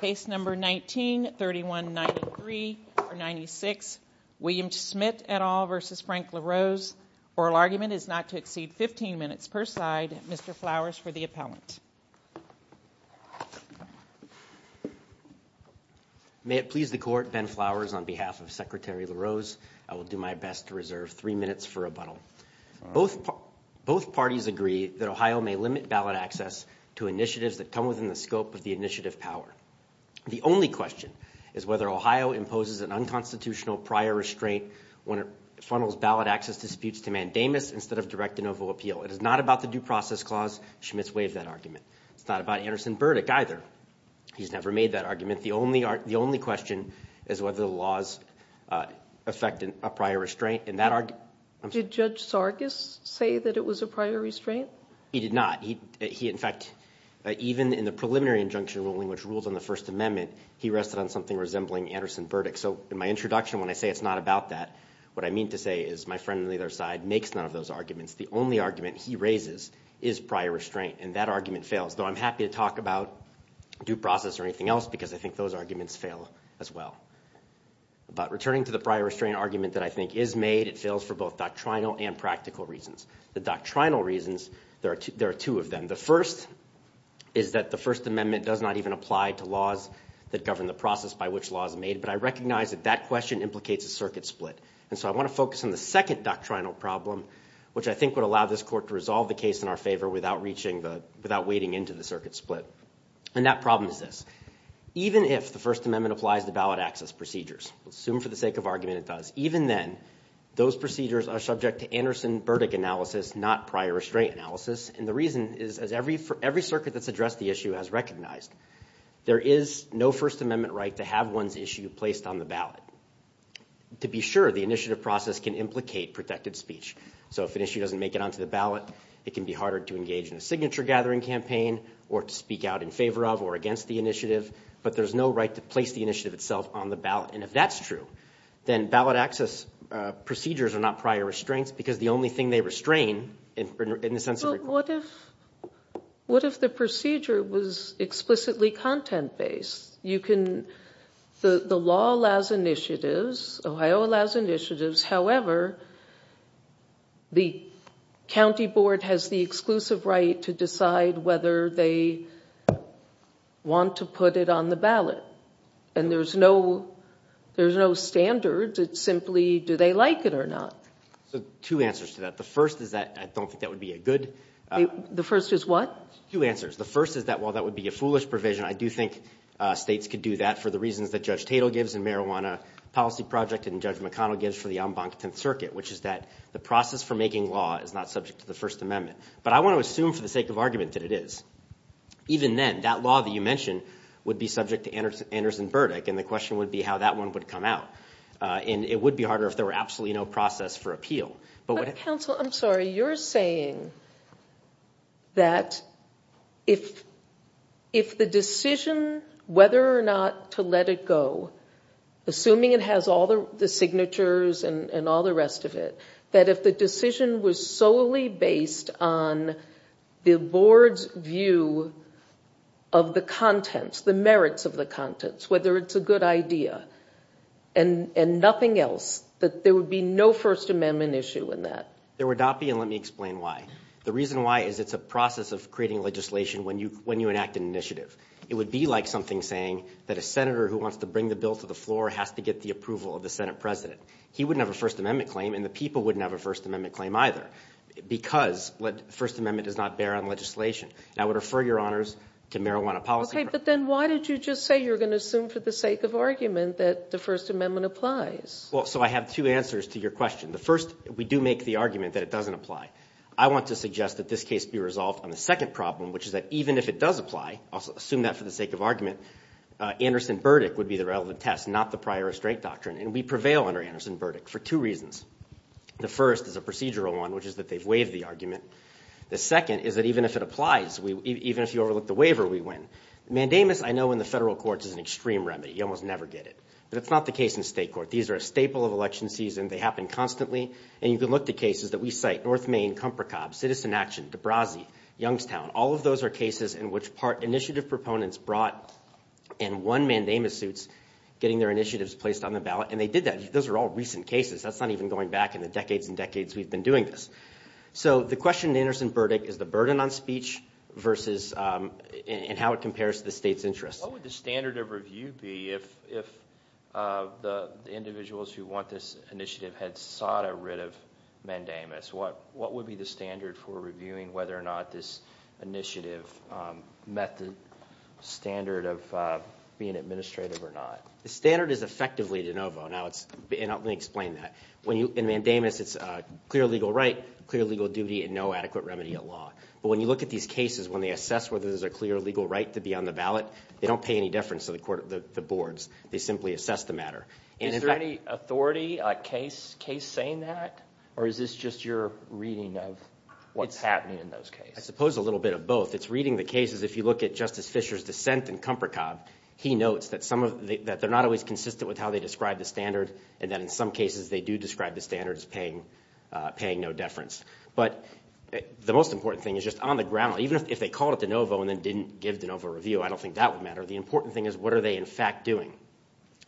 Case number 19-3193-96, William Schmitt et al. v. Frank LaRose. Oral argument is not to exceed 15 minutes per side. Mr. Flowers for the appellant. May it please the court, Ben Flowers on behalf of Secretary LaRose, I will do my best to reserve three minutes for rebuttal. Both parties agree that Ohio may limit ballot access to initiatives that come within the scope of the initiative power. The only question is whether Ohio imposes an unconstitutional prior restraint when it funnels ballot access disputes to mandamus instead of direct de novo appeal. It is not about the due process clause. Schmitt's waived that argument. It's not about Anderson Burdick either. He's never made that argument. The only question is whether the laws affect a prior restraint. Did Judge Sargis say that it was a prior restraint? He did not. In fact, even in the preliminary injunction ruling which rules on the First Amendment, he rested on something resembling Anderson Burdick. So in my introduction, when I say it's not about that, what I mean to say is my friend on the other side makes none of those arguments. The only argument he raises is prior restraint, and that argument fails. Though I'm happy to talk about due process or anything else because I think those arguments fail as well. But returning to the prior restraint argument that I think is made, it fails for both doctrinal and practical reasons. The doctrinal reasons, there are two of them. The first is that the First Amendment does not even apply to laws that govern the process by which laws are made. But I recognize that that question implicates a circuit split, and so I want to focus on the second doctrinal problem, which I think would allow this court to resolve the case in our favor without wading into the circuit split. And that problem is this. Even if the First Amendment applies to ballot access procedures, assume for the sake of argument it does, even then, those procedures are subject to Anderson Burdick analysis, not prior restraint analysis. And the reason is as every circuit that's addressed the issue has recognized, there is no First Amendment right to have one's issue placed on the ballot. To be sure, the initiative process can implicate protected speech. So if an issue doesn't make it onto the ballot, it can be harder to engage in a signature-gathering campaign or to speak out in favor of or against the initiative. But there's no right to place the initiative itself on the ballot. And if that's true, then ballot access procedures are not prior restraints because the only thing they restrain in the sense of the court. Well, what if the procedure was explicitly content-based? The law allows initiatives. Ohio allows initiatives. However, the county board has the exclusive right to decide whether they want to put it on the ballot. And there's no standard. It's simply do they like it or not. So two answers to that. The first is that I don't think that would be a good... The first is what? Two answers. The first is that while that would be a foolish provision, I do think states could do that for the reasons that Judge Tatel gives in Marijuana Policy Project and Judge McConnell gives for the en banc Tenth Circuit, which is that the process for making law is not subject to the First Amendment. But I want to assume for the sake of argument that it is. Even then, that law that you mentioned would be subject to Anderson Burdick, and the question would be how that one would come out. Counsel, I'm sorry. You're saying that if the decision whether or not to let it go, assuming it has all the signatures and all the rest of it, that if the decision was solely based on the board's view of the contents, the merits of the contents, whether it's a good idea and nothing else, that there would be no First Amendment issue in that? There would not be, and let me explain why. The reason why is it's a process of creating legislation when you enact an initiative. It would be like something saying that a senator who wants to bring the bill to the floor has to get the approval of the Senate president. He wouldn't have a First Amendment claim, and the people wouldn't have a First Amendment claim either, because the First Amendment does not bear on legislation. And I would refer your honors to Marijuana Policy Project. Okay, but then why did you just say you were going to assume for the sake of argument that the First Amendment applies? Well, so I have two answers to your question. The first, we do make the argument that it doesn't apply. I want to suggest that this case be resolved on the second problem, which is that even if it does apply, I'll assume that for the sake of argument, Anderson Burdick would be the relevant test, not the prior restraint doctrine, and we prevail under Anderson Burdick for two reasons. The first is a procedural one, which is that they've waived the argument. The second is that even if it applies, even if you overlook the waiver, we win. Mandamus I know in the federal courts is an extreme remedy. You almost never get it. But it's not the case in state court. These are a staple of election season. They happen constantly, and you can look to cases that we cite. North Main, Comprocob, Citizen Action, DeBrasi, Youngstown, all of those are cases in which part initiative proponents brought and won Mandamus suits, getting their initiatives placed on the ballot, and they did that. Those are all recent cases. That's not even going back in the decades and decades we've been doing this. So the question in Anderson Burdick is the burden on speech versus and how it compares to the state's interests. What would the standard of review be if the individuals who want this initiative had sought a writ of Mandamus? What would be the standard for reviewing whether or not this initiative met the standard of being administrative or not? The standard is effectively de novo. Now, let me explain that. In Mandamus, it's a clear legal right, clear legal duty, and no adequate remedy at law. But when you look at these cases, when they assess whether there's a clear legal right to be on the ballot, they don't pay any deference to the boards. They simply assess the matter. Is there any authority case saying that, or is this just your reading of what's happening in those cases? I suppose a little bit of both. It's reading the cases. If you look at Justice Fischer's dissent in Comprocob, he notes that they're not always consistent with how they describe the standard, and that in some cases they do describe the standard as paying no deference. But the most important thing is just on the ground, even if they called it de novo and then didn't give de novo review, I don't think that would matter. The important thing is what are they, in fact, doing?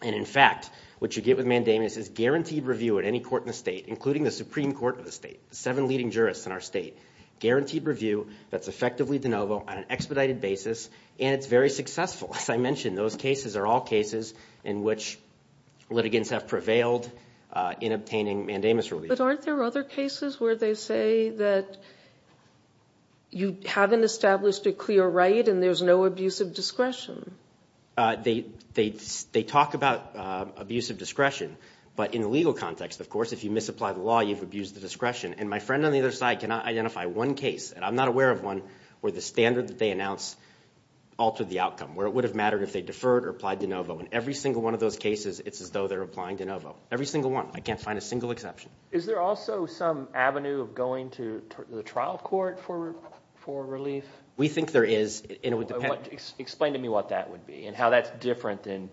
And, in fact, what you get with Mandamus is guaranteed review at any court in the state, including the Supreme Court of the state, the seven leading jurists in our state, guaranteed review that's effectively de novo on an expedited basis, and it's very successful. As I mentioned, those cases are all cases in which litigants have prevailed in obtaining Mandamus relief. But aren't there other cases where they say that you haven't established a clear right and there's no abuse of discretion? They talk about abuse of discretion, but in the legal context, of course, if you misapply the law, you've abused the discretion. And my friend on the other side cannot identify one case, and I'm not aware of one, where the standard that they announced altered the outcome, where it would have mattered if they deferred or applied de novo. In every single one of those cases, it's as though they're applying de novo, every single one. I can't find a single exception. Is there also some avenue of going to the trial court for relief? We think there is. Explain to me what that would be and how that's different than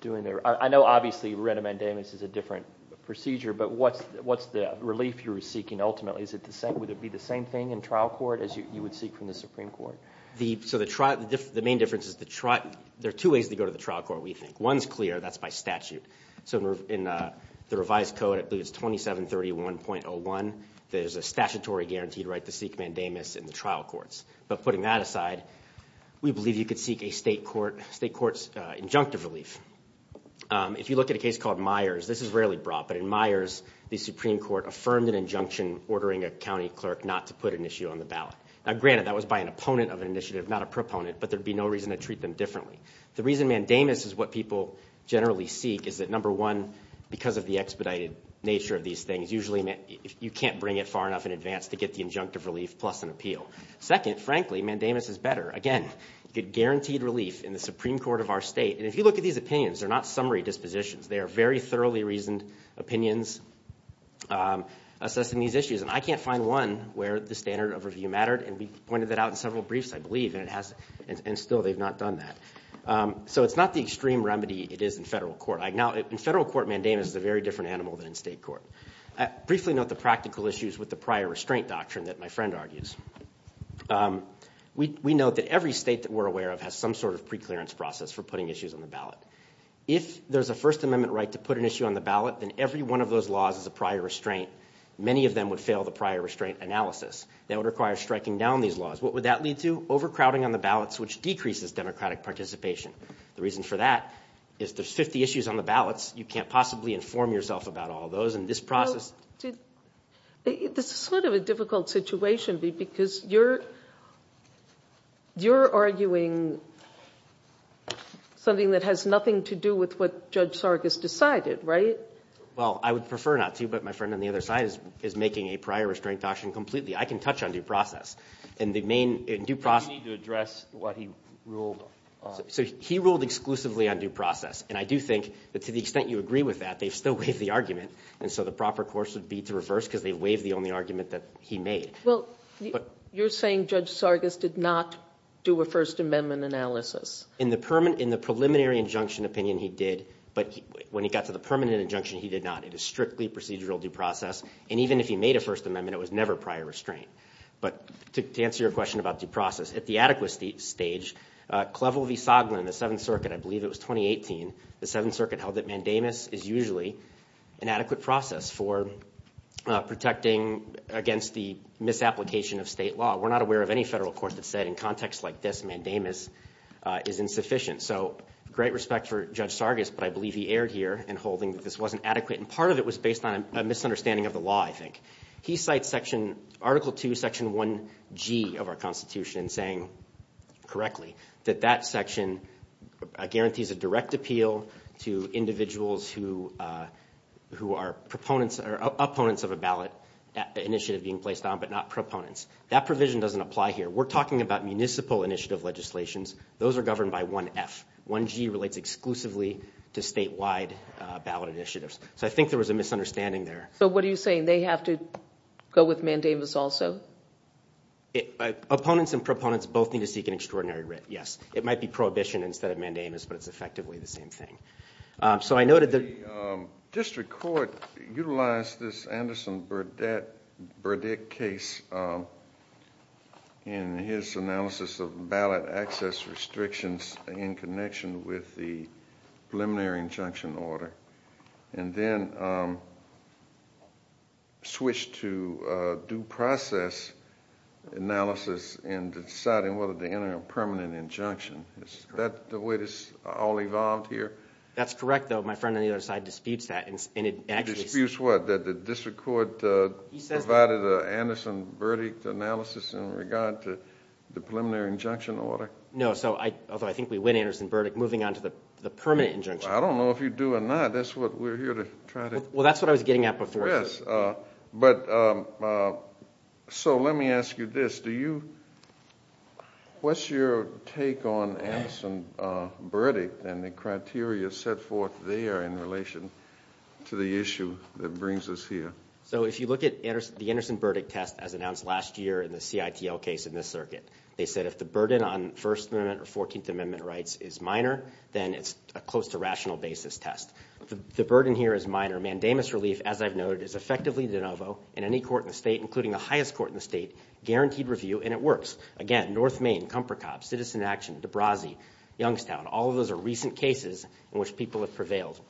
doing their – I know, obviously, writ of Mandamus is a different procedure, but what's the relief you're seeking ultimately? Would it be the same thing in trial court as you would seek from the Supreme Court? So the main difference is there are two ways to go to the trial court, we think. One's clear. That's by statute. So in the revised code, I believe it's 2731.01, there's a statutory guaranteed right to seek Mandamus in the trial courts. But putting that aside, we believe you could seek a state court's injunctive relief. If you look at a case called Myers, this is rarely brought, but in Myers the Supreme Court affirmed an injunction ordering a county clerk not to put an issue on the ballot. Now, granted, that was by an opponent of an initiative, not a proponent, but there would be no reason to treat them differently. The reason Mandamus is what people generally seek is that, number one, because of the expedited nature of these things, usually you can't bring it far enough in advance to get the injunctive relief plus an appeal. Second, frankly, Mandamus is better. Again, you get guaranteed relief in the Supreme Court of our state. And if you look at these opinions, they're not summary dispositions. They are very thoroughly reasoned opinions assessing these issues. And I can't find one where the standard of review mattered, and we pointed that out in several briefs, I believe, and still they've not done that. So it's not the extreme remedy it is in federal court. Now, in federal court, Mandamus is a very different animal than in state court. Briefly note the practical issues with the prior restraint doctrine that my friend argues. We note that every state that we're aware of has some sort of preclearance process for putting issues on the ballot. If there's a First Amendment right to put an issue on the ballot, then every one of those laws is a prior restraint. Many of them would fail the prior restraint analysis. That would require striking down these laws. What would that lead to? Overcrowding on the ballots, which decreases democratic participation. The reason for that is there's 50 issues on the ballots. You can't possibly inform yourself about all those in this process. This is sort of a difficult situation because you're arguing something that has nothing to do with what Judge Sargas decided, right? Well, I would prefer not to, but my friend on the other side is making a prior restraint doctrine completely. I can touch on due process. And the main due process. You need to address what he ruled on. So he ruled exclusively on due process. And I do think that to the extent you agree with that, they've still waived the argument. And so the proper course would be to reverse because they've waived the only argument that he made. Well, you're saying Judge Sargas did not do a First Amendment analysis. In the preliminary injunction opinion, he did. But when he got to the permanent injunction, he did not. It is strictly procedural due process. And even if he made a First Amendment, it was never prior restraint. But to answer your question about due process, at the adequacy stage, Clevel V. Soglin, the Seventh Circuit, I believe it was 2018, the Seventh Circuit held that mandamus is usually an adequate process for protecting against the misapplication of state law. We're not aware of any federal court that said in contexts like this, mandamus is insufficient. So great respect for Judge Sargas, but I believe he erred here in holding that this wasn't adequate. And part of it was based on a misunderstanding of the law, I think. He cites Article 2, Section 1G of our Constitution saying correctly that that section guarantees a direct appeal to individuals who are opponents of a ballot initiative being placed on, but not proponents. That provision doesn't apply here. We're talking about municipal initiative legislations. Those are governed by 1F. 1G relates exclusively to statewide ballot initiatives. So I think there was a misunderstanding there. So what are you saying? They have to go with mandamus also? Opponents and proponents both need to seek an extraordinary writ, yes. It might be prohibition instead of mandamus, but it's effectively the same thing. The district court utilized this Anderson Burdick case in his analysis of ballot access restrictions in connection with the preliminary injunction order, and then switched to due process analysis in deciding whether to enter a permanent injunction. Is that the way this all evolved here? That's correct, though. My friend on the other side disputes that. Disputes what? That the district court provided an Anderson Burdick analysis in regard to the preliminary injunction order? No, although I think we win Anderson Burdick moving on to the permanent injunction. I don't know if you do or not. That's what we're here to try to— Well, that's what I was getting at before. Yes. So let me ask you this. What's your take on Anderson Burdick and the criteria set forth there in relation to the issue that brings us here? So if you look at the Anderson Burdick test as announced last year in the CITL case in this circuit, they said if the burden on First Amendment or 14th Amendment rights is minor, then it's a close to rational basis test. The burden here is minor. Mandamus relief, as I've noted, is effectively de novo in any court in the state, including the highest court in the state, guaranteed review, and it works. Again, North Main, Compracop, Citizen Action, DeBrasi, Youngstown, all of those are recent cases in which people have prevailed.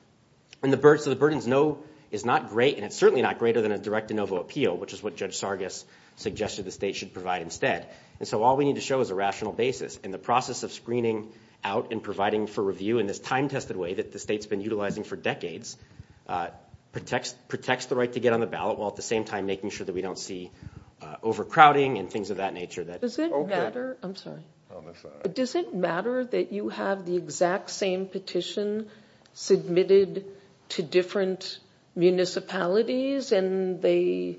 So the burden is not great, and it's certainly not greater than a direct de novo appeal, which is what Judge Sargas suggested the state should provide instead. And so all we need to show is a rational basis. And the process of screening out and providing for review in this time-tested way that the state's been utilizing for decades protects the right to get on the ballot while at the same time making sure that we don't see overcrowding and things of that nature. Does it matter that you have the exact same petition submitted to different municipalities and they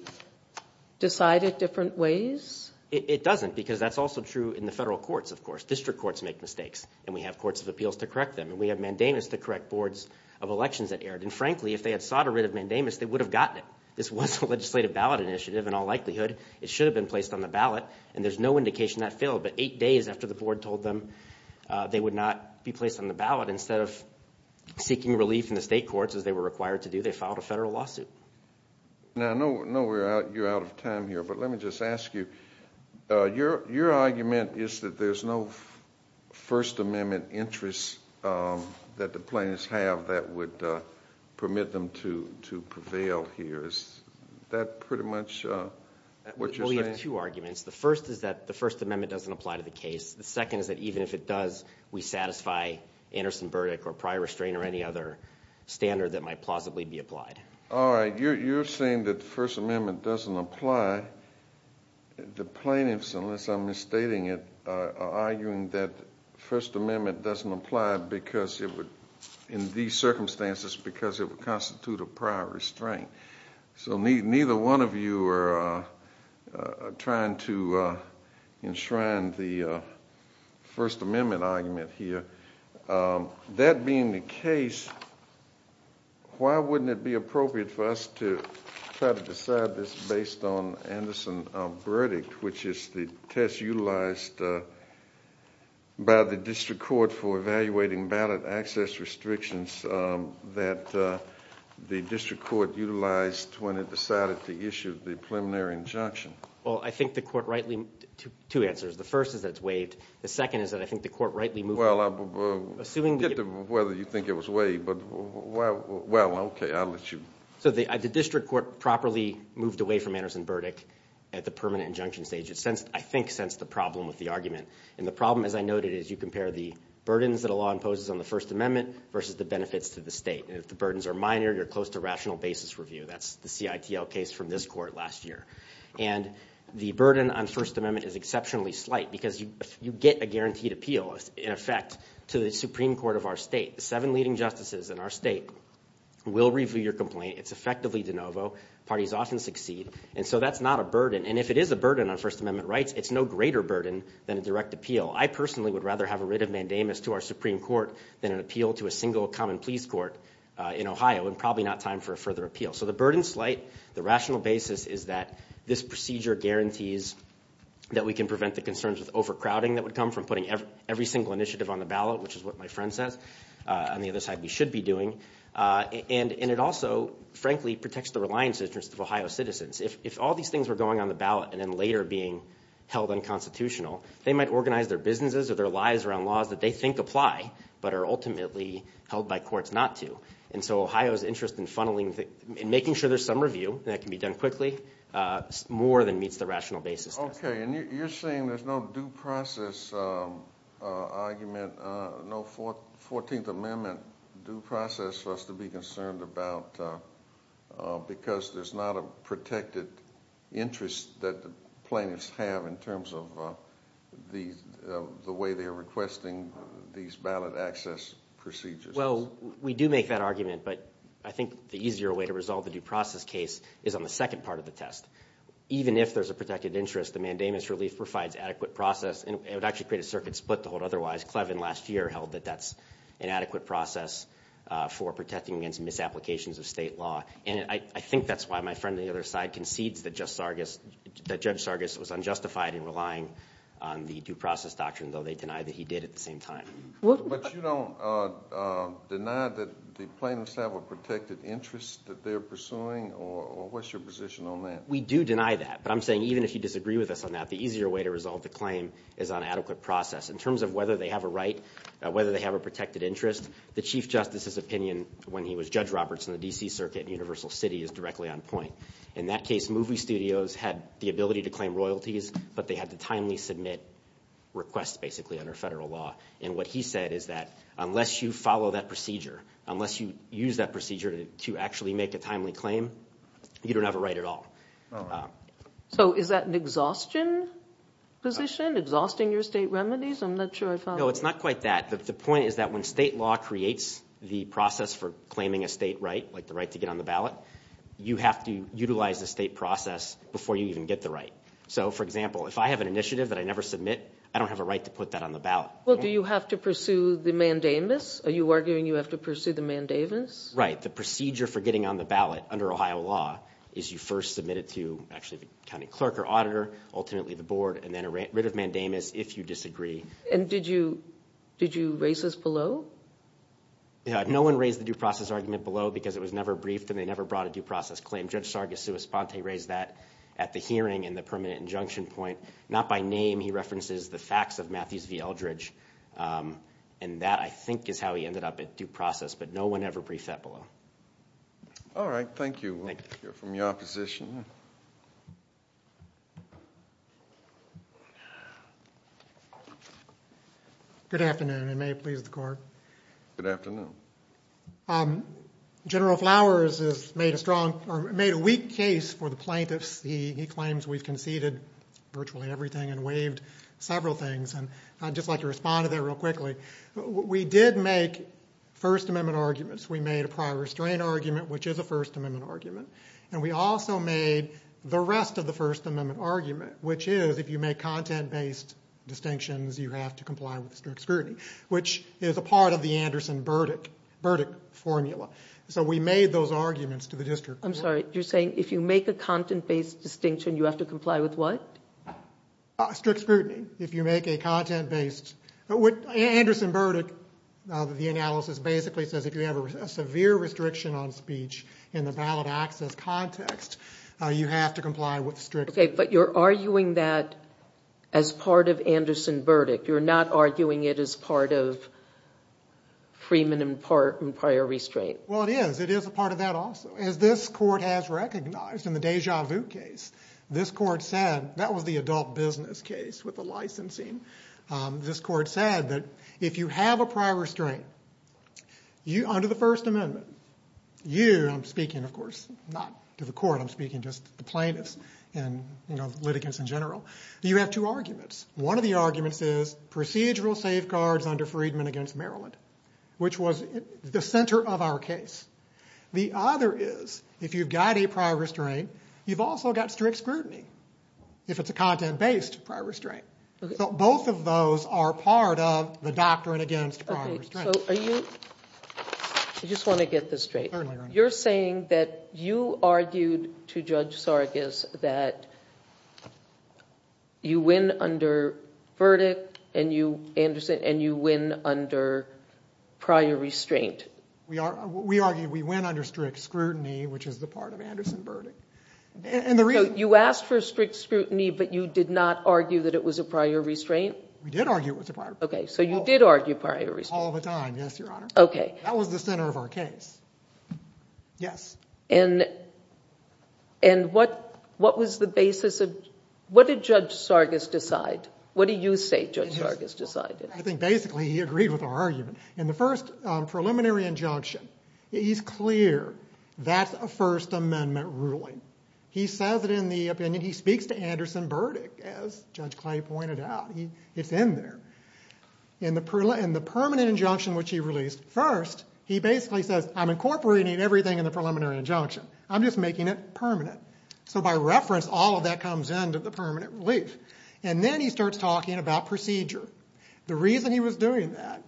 decide it different ways? It doesn't, because that's also true in the federal courts, of course. District courts make mistakes, and we have courts of appeals to correct them, and we have mandamus to correct boards of elections that erred. And frankly, if they had sought a writ of mandamus, they would have gotten it. This was a legislative ballot initiative in all likelihood. It should have been placed on the ballot, and there's no indication that failed. But eight days after the board told them they would not be placed on the ballot, instead of seeking relief in the state courts, as they were required to do, they filed a federal lawsuit. Now, I know you're out of time here, but let me just ask you. Your argument is that there's no First Amendment interest that the plaintiffs have that would permit them to prevail here. Is that pretty much what you're saying? Well, we have two arguments. The first is that the First Amendment doesn't apply to the case. The second is that even if it does, we satisfy Anderson-Burdick or prior restraint or any other standard that might plausibly be applied. All right. You're saying that the First Amendment doesn't apply. The plaintiffs, unless I'm misstating it, are arguing that the First Amendment doesn't apply in these circumstances because it would constitute a prior restraint. So neither one of you are trying to enshrine the First Amendment argument here. That being the case, why wouldn't it be appropriate for us to try to decide this based on Anderson-Burdick, which is the test utilized by the district court for evaluating ballot access restrictions that the district court utilized when it decided to issue the preliminary injunction? Well, I think the court rightly—two answers. The first is that it's waived. The second is that I think the court rightly— Well, I forget whether you think it was waived, but well, okay, I'll let you— So the district court properly moved away from Anderson-Burdick at the permanent injunction stage. It, I think, sensed the problem with the argument. And the problem, as I noted, is you compare the burdens that a law imposes on the First Amendment versus the benefits to the state. And if the burdens are minor, you're close to rational basis review. That's the CITL case from this court last year. And the burden on First Amendment is exceptionally slight because you get a guaranteed appeal, in effect, to the Supreme Court of our state. The seven leading justices in our state will review your complaint. It's effectively de novo. Parties often succeed. And so that's not a burden. And if it is a burden on First Amendment rights, it's no greater burden than a direct appeal. I personally would rather have a writ of mandamus to our Supreme Court than an appeal to a single common pleas court in Ohio, and probably not time for a further appeal. So the burden's slight. The rational basis is that this procedure guarantees that we can prevent the concerns with overcrowding that would come from putting every single initiative on the ballot, which is what my friend says. On the other side, we should be doing. And it also, frankly, protects the reliance interests of Ohio citizens. If all these things were going on the ballot and then later being held unconstitutional, they might organize their businesses or their lives around laws that they think apply but are ultimately held by courts not to. And so Ohio's interest in funneling and making sure there's some review, and that can be done quickly, more than meets the rational basis. Okay. And you're saying there's no due process argument, no 14th Amendment due process for us to be concerned about because there's not a protected interest that the plaintiffs have in terms of the way they are requesting these ballot access procedures. Well, we do make that argument, but I think the easier way to resolve the due process case is on the second part of the test. Even if there's a protected interest, the mandamus relief provides adequate process, and it would actually create a circuit split to hold otherwise. Clevin last year held that that's an adequate process for protecting against misapplications of state law. And I think that's why my friend on the other side concedes that Judge Sargis was unjustified in relying on the due process doctrine, though they deny that he did at the same time. But you don't deny that the plaintiffs have a protected interest that they're pursuing, or what's your position on that? We do deny that, but I'm saying even if you disagree with us on that, the easier way to resolve the claim is on adequate process. In terms of whether they have a right, whether they have a protected interest, the Chief Justice's opinion when he was Judge Roberts in the D.C. Circuit in Universal City is directly on point. In that case, movie studios had the ability to claim royalties, but they had to timely submit requests, basically, under federal law. And what he said is that unless you follow that procedure, unless you use that procedure to actually make a timely claim, you don't have a right at all. So is that an exhaustion position, exhausting your state remedies? I'm not sure I follow. No, it's not quite that. The point is that when state law creates the process for claiming a state right, like the right to get on the ballot, you have to utilize the state process before you even get the right. So, for example, if I have an initiative that I never submit, I don't have a right to put that on the ballot. Well, do you have to pursue the mandamus? Are you arguing you have to pursue the mandamus? Right. The procedure for getting on the ballot under Ohio law is you first submit it to actually the county clerk or auditor, ultimately the board, and then a writ of mandamus if you disagree. And did you raise this below? No one raised the due process argument below because it was never briefed and they never brought a due process claim. Judge Sargassous-Ponte raised that at the hearing in the permanent injunction point. Not by name. He references the facts of Matthews v. Eldridge, and that, I think, is how he ended up at due process. But no one ever briefed that below. All right. Thank you. We'll hear from the opposition. Good afternoon, and may it please the Court. Good afternoon. General Flowers has made a weak case for the plaintiffs. He claims we've conceded virtually everything and waived several things. And I'd just like to respond to that real quickly. We did make First Amendment arguments. We made a prior restraint argument, which is a First Amendment argument. And we also made the rest of the First Amendment argument, which is if you make content-based distinctions, you have to comply with strict scrutiny, which is a part of the Anderson-Burdick formula. So we made those arguments to the district court. I'm sorry. You're saying if you make a content-based distinction, you have to comply with what? Strict scrutiny. If you make a content-based – Anderson-Burdick, the analysis basically says if you have a severe restriction on speech in the ballot access context, you have to comply with strict scrutiny. Okay, but you're arguing that as part of Anderson-Burdick. You're not arguing it as part of Freeman and prior restraint. Well, it is. It is a part of that also. As this Court has recognized in the Deja Vu case, this Court said – that was the adult business case with the licensing. This Court said that if you have a prior restraint, under the First Amendment, you – I'm speaking, of course, not to the Court. I'm speaking just to the plaintiffs and litigants in general. You have two arguments. One of the arguments is procedural safeguards under Freedman against Maryland, which was the center of our case. The other is if you've got a prior restraint, you've also got strict scrutiny if it's a content-based prior restraint. So both of those are part of the doctrine against prior restraint. Okay, so are you – I just want to get this straight. Certainly, Your Honor. You're saying that you argued to Judge Sargis that you win under Burdick and you – Anderson – and you win under prior restraint. We argue we win under strict scrutiny, which is the part of Anderson-Burdick. So you asked for strict scrutiny, but you did not argue that it was a prior restraint? We did argue it was a prior restraint. Okay, so you did argue prior restraint. All the time, yes, Your Honor. Okay. That was the center of our case. Yes. And what was the basis of – what did Judge Sargis decide? What do you say Judge Sargis decided? I think basically he agreed with our argument. In the first preliminary injunction, he's clear that's a First Amendment ruling. He says it in the opinion. He speaks to Anderson-Burdick, as Judge Clay pointed out. It's in there. In the permanent injunction, which he released first, he basically says, I'm incorporating everything in the preliminary injunction. I'm just making it permanent. So by reference, all of that comes into the permanent relief. And then he starts talking about procedure. The reason he was doing that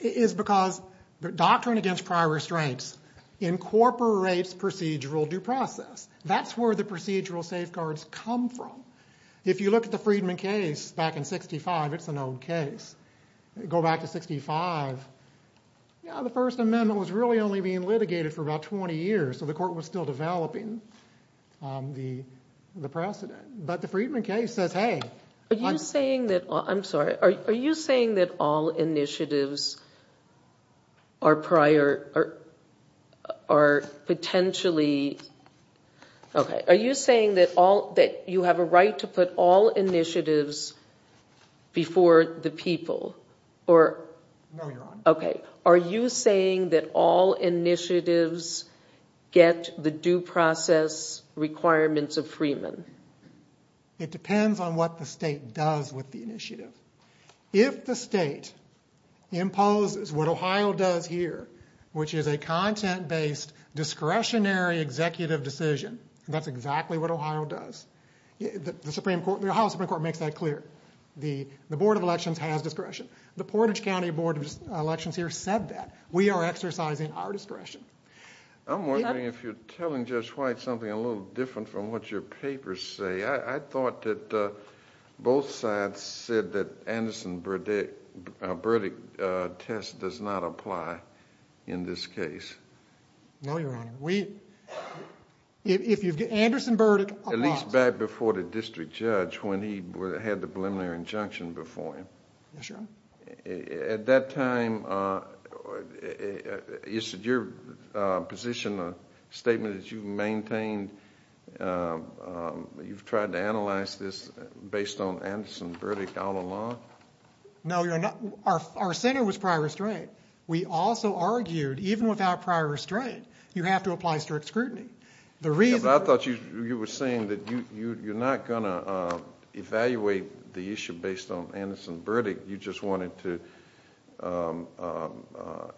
is because the doctrine against prior restraints incorporates procedural due process. That's where the procedural safeguards come from. If you look at the Friedman case back in 1965, it's an old case. Go back to 1965, the First Amendment was really only being litigated for about 20 years, so the court was still developing the precedent. But the Friedman case says, hey – Are you saying that – I'm sorry. Are you saying that all initiatives are prior – are potentially – okay. Are you saying that you have a right to put all initiatives before the people? No, Your Honor. Okay. Are you saying that all initiatives get the due process requirements of Friedman? It depends on what the state does with the initiative. If the state imposes what Ohio does here, which is a content-based discretionary executive decision, that's exactly what Ohio does, the Supreme Court – the Ohio Supreme Court makes that clear. The Board of Elections has discretion. The Portage County Board of Elections here said that. We are exercising our discretion. I'm wondering if you're telling Judge White something a little different from what your papers say. I thought that both sides said that Anderson-Burdick test does not apply in this case. No, Your Honor. Anderson-Burdick – At least back before the district judge when he had the preliminary injunction before him. Yes, Your Honor. At that time, is it your position, a statement that you've maintained, you've tried to analyze this based on Anderson-Burdick all along? No, Your Honor. Our center was prior restraint. We also argued even without prior restraint, you have to apply strict scrutiny. I thought you were saying that you're not going to evaluate the issue based on Anderson-Burdick. You just wanted to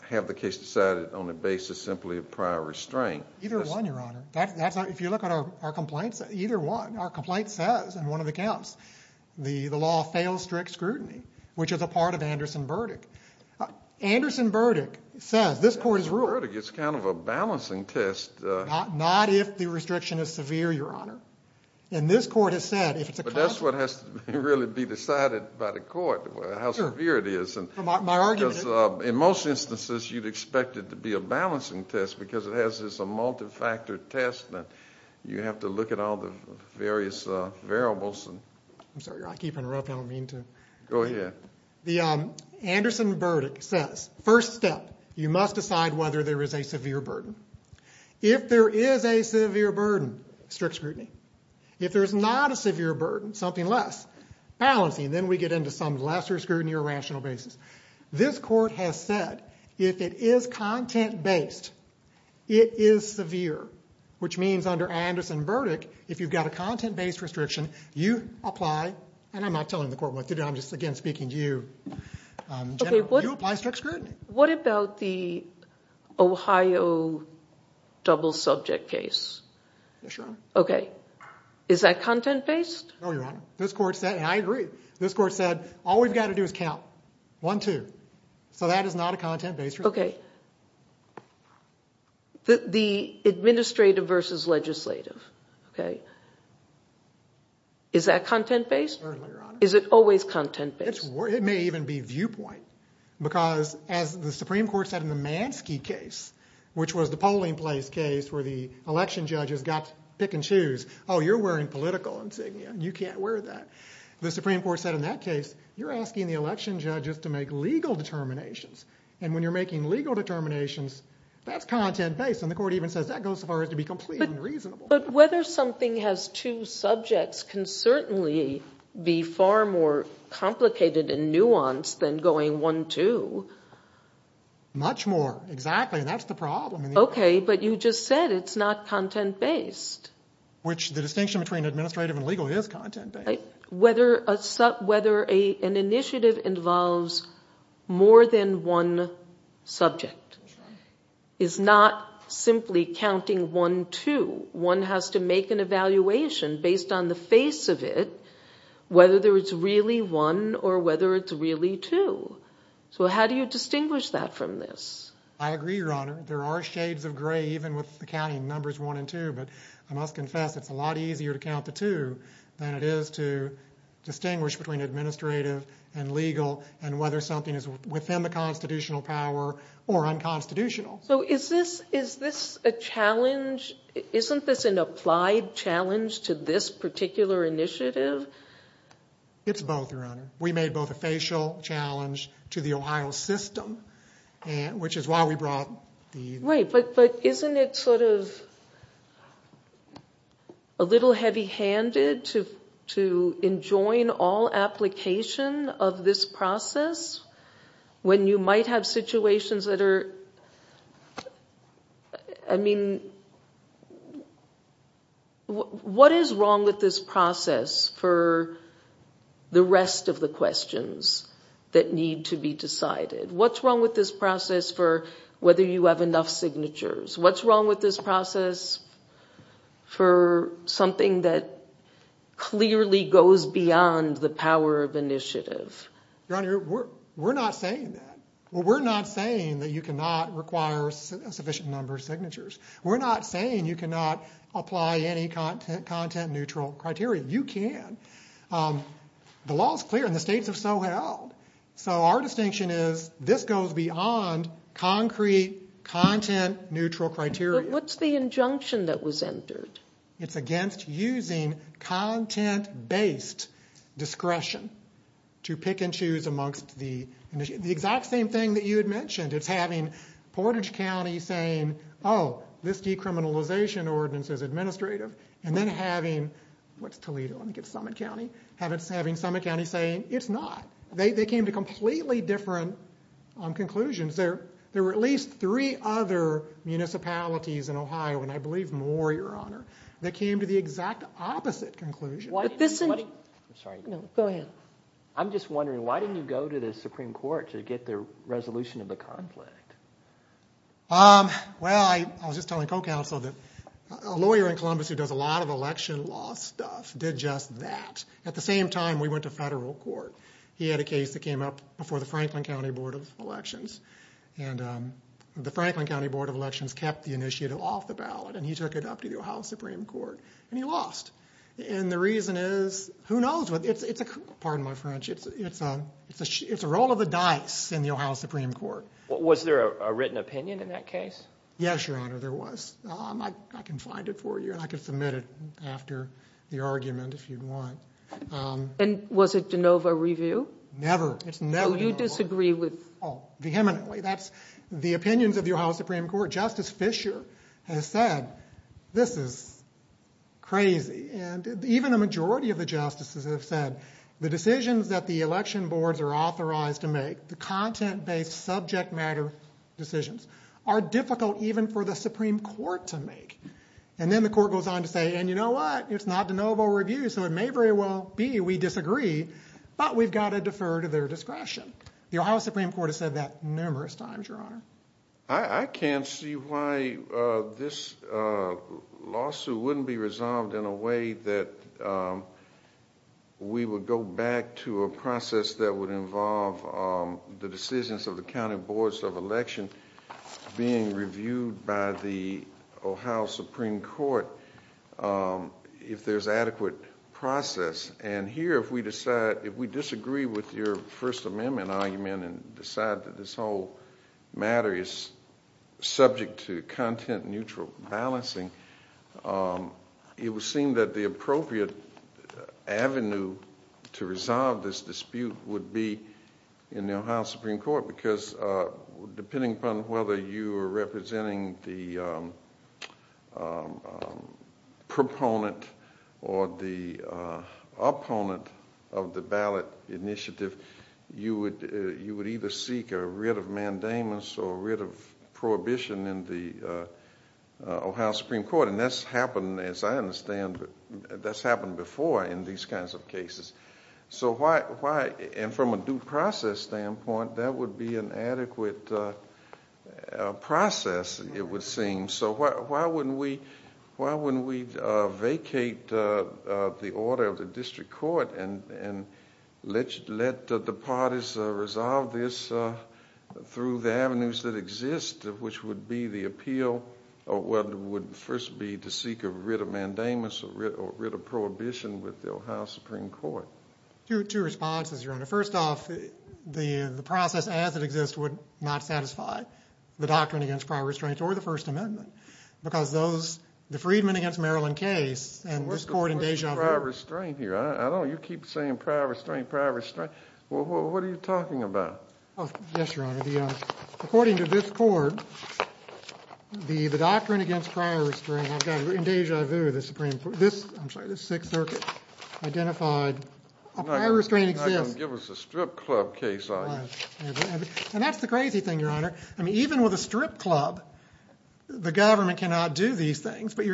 have the case decided on the basis simply of prior restraint. Either one, Your Honor. If you look at our complaints, either one. Our complaint says in one of the counts, the law fails strict scrutiny, which is a part of Anderson-Burdick. Anderson-Burdick says this court is – Anderson-Burdick is kind of a balancing test. Not if the restriction is severe, Your Honor. And this court has said if it's a – That's what has to really be decided by the court, how severe it is. My argument is – Because in most instances, you'd expect it to be a balancing test because it has this multi-factor test that you have to look at all the various variables. I'm sorry, Your Honor. I keep interrupting. I don't mean to – Go ahead. The Anderson-Burdick says first step, you must decide whether there is a severe burden. If there is a severe burden, strict scrutiny. If there is not a severe burden, something less, balancing. Then we get into some lesser scrutiny or rational basis. This court has said if it is content-based, it is severe, which means under Anderson-Burdick, if you've got a content-based restriction, you apply – And I'm not telling the court what to do. I'm just, again, speaking to you, General. You apply strict scrutiny. What about the Ohio double subject case? Yes, Your Honor. Okay. Is that content-based? No, Your Honor. This court said – and I agree. This court said all we've got to do is count. One, two. So that is not a content-based restriction. Okay. The administrative versus legislative. Okay. Is that content-based? Certainly, Your Honor. Is it always content-based? It may even be viewpoint because as the Supreme Court said in the Mansky case, which was the polling place case where the election judges got to pick and choose. Oh, you're wearing political insignia. You can't wear that. The Supreme Court said in that case, you're asking the election judges to make legal determinations. And when you're making legal determinations, that's content-based. And the court even says that goes as far as to be completely unreasonable. But whether something has two subjects can certainly be far more complicated and nuanced than going one, two. Much more, exactly. I mean, that's the problem. Okay, but you just said it's not content-based. Which the distinction between administrative and legal is content-based. Whether an initiative involves more than one subject is not simply counting one, two. One has to make an evaluation based on the face of it, whether it's really one or whether it's really two. So how do you distinguish that from this? I agree, Your Honor. There are shades of gray even with the counting numbers one and two. But I must confess, it's a lot easier to count the two than it is to distinguish between administrative and legal and whether something is within the constitutional power or unconstitutional. So is this a challenge? Isn't this an applied challenge to this particular initiative? It's both, Your Honor. We made both a facial challenge to the Ohio system, which is why we brought the... Right, but isn't it sort of a little heavy-handed to enjoin all application of this process when you might have situations that are... I mean, what is wrong with this process for the rest of the questions that need to be decided? What's wrong with this process for whether you have enough signatures? What's wrong with this process for something that clearly goes beyond the power of initiative? Your Honor, we're not saying that. Well, we're not saying that you cannot require a sufficient number of signatures. We're not saying you cannot apply any content-neutral criteria. You can. The law is clear, and the states have so held. So our distinction is this goes beyond concrete content-neutral criteria. But what's the injunction that was entered? It's against using content-based discretion to pick and choose amongst the initiatives. The exact same thing that you had mentioned. It's having Portage County saying, oh, this decriminalization ordinance is administrative, and then having, what's Toledo? I think it's Summit County. Having Summit County saying it's not. They came to completely different conclusions. There were at least three other municipalities in Ohio, and I believe more, Your Honor, that came to the exact opposite conclusion. I'm sorry. No, go ahead. I'm just wondering, why didn't you go to the Supreme Court to get the resolution of the conflict? Well, I was just telling co-counsel that a lawyer in Columbus who does a lot of election law stuff did just that. At the same time, we went to federal court. He had a case that came up before the Franklin County Board of Elections, and the Franklin County Board of Elections kept the initiative off the ballot, and he took it up to the Ohio Supreme Court, and he lost. The reason is, who knows? Pardon my French. It's a roll of the dice in the Ohio Supreme Court. Was there a written opinion in that case? Yes, Your Honor, there was. I can find it for you, and I can submit it after the argument if you want. Was it de novo review? Never. It's never de novo. Do you disagree with? Oh, vehemently. That's the opinions of the Ohio Supreme Court. Justice Fischer has said this is crazy. And even a majority of the justices have said the decisions that the election boards are authorized to make, the content-based subject matter decisions, are difficult even for the Supreme Court to make. And then the court goes on to say, and you know what? It's not de novo review, so it may very well be we disagree, but we've got to defer to their discretion. The Ohio Supreme Court has said that numerous times, Your Honor. I can't see why this lawsuit wouldn't be resolved in a way that we would go back to a process that would involve the decisions of the county boards of election being reviewed by the Ohio Supreme Court if there's adequate process. And here, if we disagree with your First Amendment argument and decide that this whole matter is subject to content-neutral balancing, it would seem that the appropriate avenue to resolve this dispute would be in the Ohio Supreme Court, because depending upon whether you are representing the proponent or the opponent of the ballot initiative, you would either seek a writ of mandamus or a writ of prohibition in the Ohio Supreme Court. And that's happened, as I understand, that's happened before in these kinds of cases. So why, and from a due process standpoint, that would be an adequate process, it would seem. So why wouldn't we vacate the order of the district court and let the parties resolve this through the avenues that exist, which would be the appeal or would first be to seek a writ of mandamus or a writ of prohibition with the Ohio Supreme Court? Two responses, Your Honor. First off, the process as it exists would not satisfy the doctrine against prior restraints or the First Amendment, because the Freedman v. Maryland case and this court in Deja— What's prior restraint here? You keep saying prior restraint, prior restraint. What are you talking about? Yes, Your Honor. According to this court, the doctrine against prior restraint, I've got it in Deja Vu, the Supreme Court. This, I'm sorry, the Sixth Circuit identified a prior restraint exists. You're not going to give us a strip club case, are you? And that's the crazy thing, Your Honor. I mean, even with a strip club, the government cannot do these things. But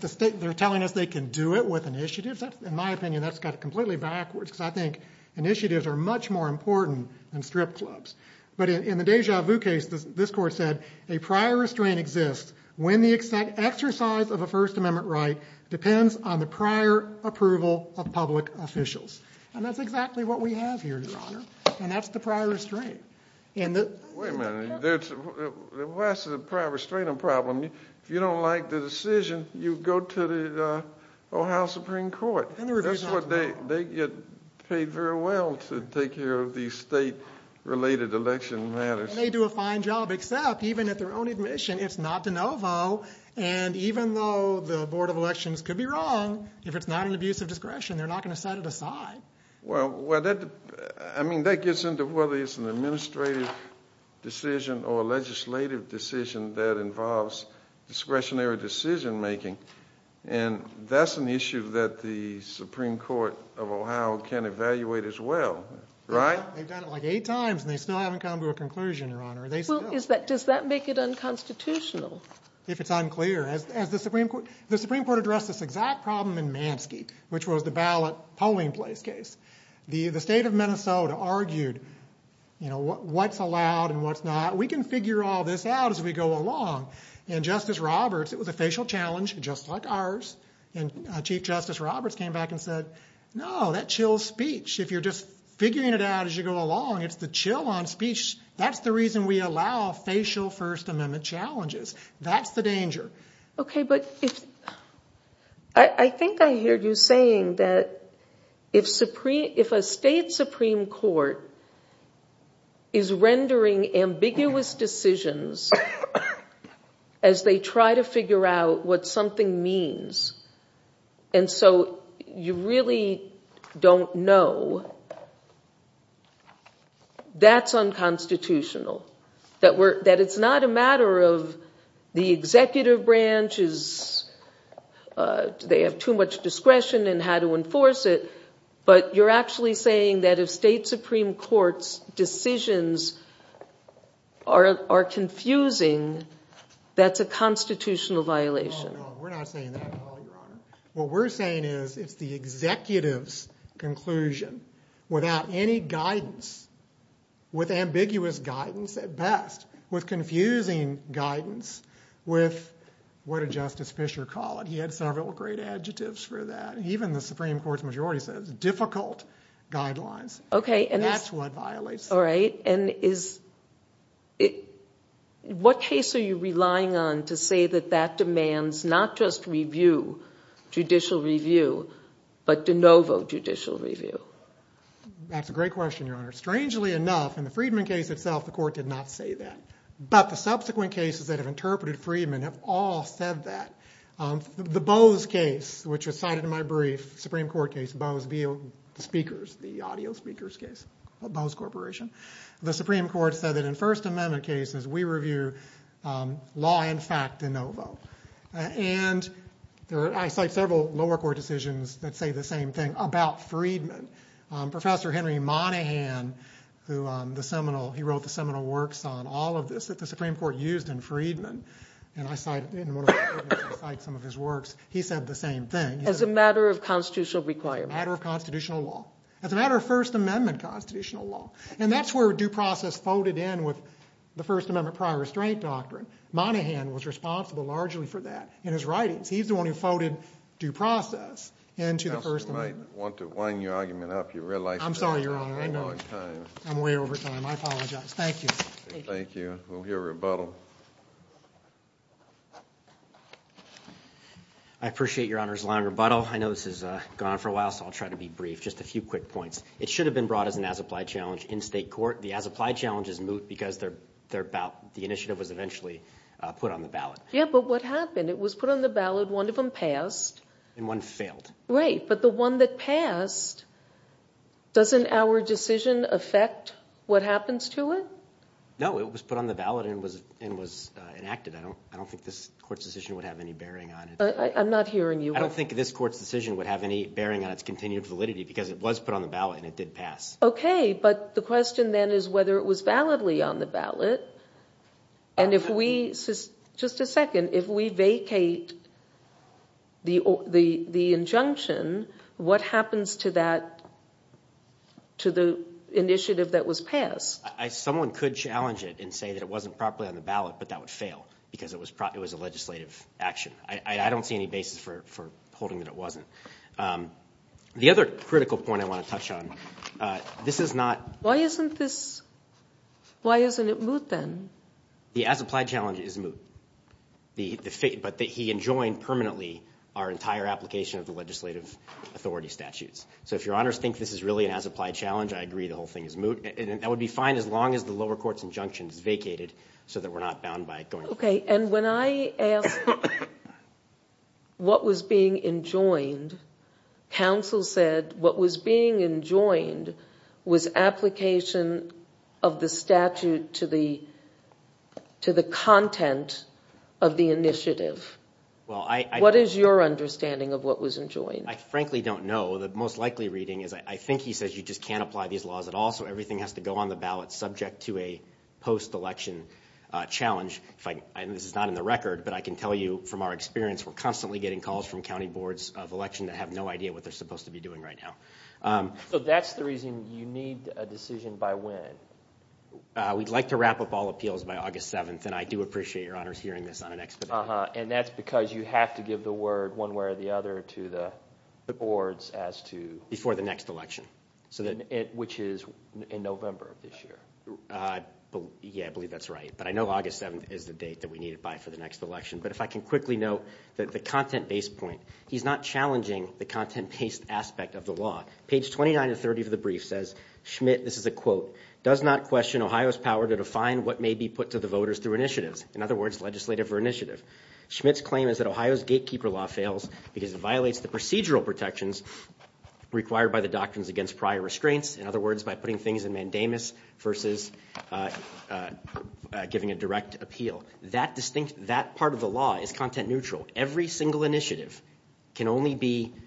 the state, they're telling us they can do it with initiatives. In my opinion, that's got it completely backwards, because I think initiatives are much more important than strip clubs. But in the Deja Vu case, this court said a prior restraint exists when the exercise of a First Amendment right depends on the prior approval of public officials. And that's exactly what we have here, Your Honor, and that's the prior restraint. Wait a minute. Why is the prior restraint a problem? If you don't like the decision, you go to the Ohio Supreme Court. They get paid very well to take care of these state-related election matters. And they do a fine job, except even at their own admission, it's not de novo. And even though the Board of Elections could be wrong, if it's not an abuse of discretion, they're not going to set it aside. Well, that gets into whether it's an administrative decision or a legislative decision that involves discretionary decision-making. And that's an issue that the Supreme Court of Ohio can evaluate as well, right? They've done it like eight times, and they still haven't come to a conclusion, Your Honor. Does that make it unconstitutional? If it's unclear. The Supreme Court addressed this exact problem in Mansky, which was the ballot polling place case. The state of Minnesota argued what's allowed and what's not. We can figure all this out as we go along. And Justice Roberts, it was a facial challenge, just like ours. And Chief Justice Roberts came back and said, no, that chills speech. If you're just figuring it out as you go along, it's the chill on speech. That's the reason we allow facial First Amendment challenges. That's the danger. I think I heard you saying that if a state Supreme Court is rendering ambiguous decisions as they try to figure out what something means, and so you really don't know, that's unconstitutional. That it's not a matter of the executive branches, they have too much discretion in how to enforce it, but you're actually saying that if state Supreme Court's decisions are confusing, that's a constitutional violation. No, no, we're not saying that at all, Your Honor. What we're saying is it's the executive's conclusion, without any guidance, with ambiguous guidance at best, with confusing guidance, with what did Justice Fischer call it? He had several great adjectives for that. Even the Supreme Court's majority says difficult guidelines. That's what violates it. All right, and what case are you relying on to say that that demands not just review, judicial review, but de novo judicial review? That's a great question, Your Honor. Strangely enough, in the Friedman case itself, the court did not say that. But the subsequent cases that have interpreted Friedman have all said that. The Bose case, which was cited in my brief, Supreme Court case, Bose speakers, the audio speakers case, Bose Corporation. The Supreme Court said that in First Amendment cases, we review law in fact de novo. And I cite several lower court decisions that say the same thing about Friedman. Professor Henry Monaghan, he wrote the seminal works on all of this that the Supreme Court used in Friedman. And I cite some of his works. He said the same thing. As a matter of constitutional requirement. As a matter of constitutional law. As a matter of First Amendment constitutional law. And that's where due process folded in with the First Amendment prior restraint doctrine. Monaghan was responsible largely for that in his writings. He's the one who folded due process into the First Amendment. I want to wind your argument up. I'm sorry, Your Honor. I'm way over time. I apologize. Thank you. Thank you. We'll hear rebuttal. I appreciate Your Honor's long rebuttal. I know this has gone on for a while, so I'll try to be brief. Just a few quick points. It should have been brought as an as-applied challenge in state court. The as-applied challenge is moot because the initiative was eventually put on the ballot. Yeah, but what happened? It was put on the ballot. One of them passed. And one failed. Right. But the one that passed, doesn't our decision affect what happens to it? No, it was put on the ballot and was enacted. I don't think this court's decision would have any bearing on it. I'm not hearing you. I don't think this court's decision would have any bearing on its continued validity because it was put on the ballot and it did pass. Okay, but the question then is whether it was validly on the ballot. And if we – just a second. If we vacate the injunction, what happens to that – to the initiative that was passed? Someone could challenge it and say that it wasn't properly on the ballot, but that would fail because it was a legislative action. I don't see any basis for holding that it wasn't. The other critical point I want to touch on, this is not – Why isn't this – why isn't it moot then? The as-applied challenge is moot. But he enjoined permanently our entire application of the legislative authority statutes. So if your honors think this is really an as-applied challenge, I agree the whole thing is moot. That would be fine as long as the lower court's injunction is vacated so that we're not bound by it going forward. Okay, and when I asked what was being enjoined, counsel said what was being enjoined was application of the statute to the content of the initiative. What is your understanding of what was enjoined? I frankly don't know. The most likely reading is I think he says you just can't apply these laws at all, so everything has to go on the ballot subject to a post-election challenge. This is not in the record, but I can tell you from our experience, we're constantly getting calls from county boards of election that have no idea what they're supposed to be doing right now. So that's the reason you need a decision by when? We'd like to wrap up all appeals by August 7th, and I do appreciate your honors hearing this on an expedition. And that's because you have to give the word one way or the other to the boards as to – Before the next election. Which is in November of this year. Yeah, I believe that's right. But I know August 7th is the date that we need it by for the next election. But if I can quickly note that the content-based point, he's not challenging the content-based aspect of the law. Page 29 of 30 of the brief says, Schmitt, this is a quote, does not question Ohio's power to define what may be put to the voters through initiatives. In other words, legislative or initiative. Schmitt's claim is that Ohio's gatekeeper law fails because it violates the procedural protections required by the doctrines against prior restraints. In other words, by putting things in mandamus versus giving a direct appeal. That distinct – that part of the law is content-neutral. Every single initiative can only be –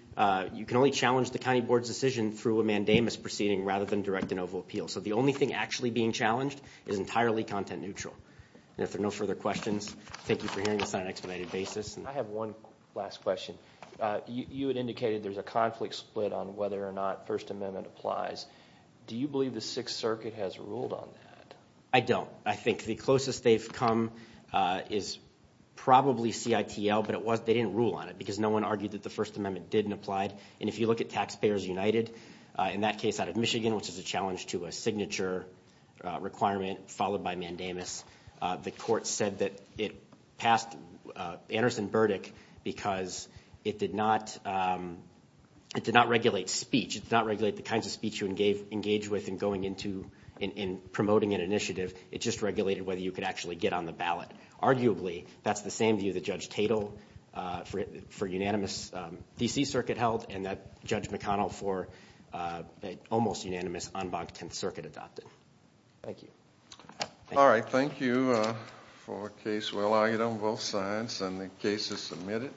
you can only challenge the county board's decision through a mandamus proceeding rather than direct an oval appeal. So the only thing actually being challenged is entirely content-neutral. And if there are no further questions, thank you for hearing this on an expedited basis. I have one last question. You had indicated there's a conflict split on whether or not First Amendment applies. Do you believe the Sixth Circuit has ruled on that? I don't. I think the closest they've come is probably CITL, but they didn't rule on it because no one argued that the First Amendment didn't apply. And if you look at Taxpayers United, in that case out of Michigan, which is a challenge to a signature requirement followed by mandamus, the court said that it passed Anderson Burdick because it did not regulate speech. It did not regulate the kinds of speech you engage with in going into – in promoting an initiative. It just regulated whether you could actually get on the ballot. Arguably, that's the same view that Judge Tatel for unanimous D.C. Circuit held and that Judge McConnell for almost unanimous en banc 10th Circuit adopted. Thank you. All right. Thank you for a case well argued on both sides and the cases submitted.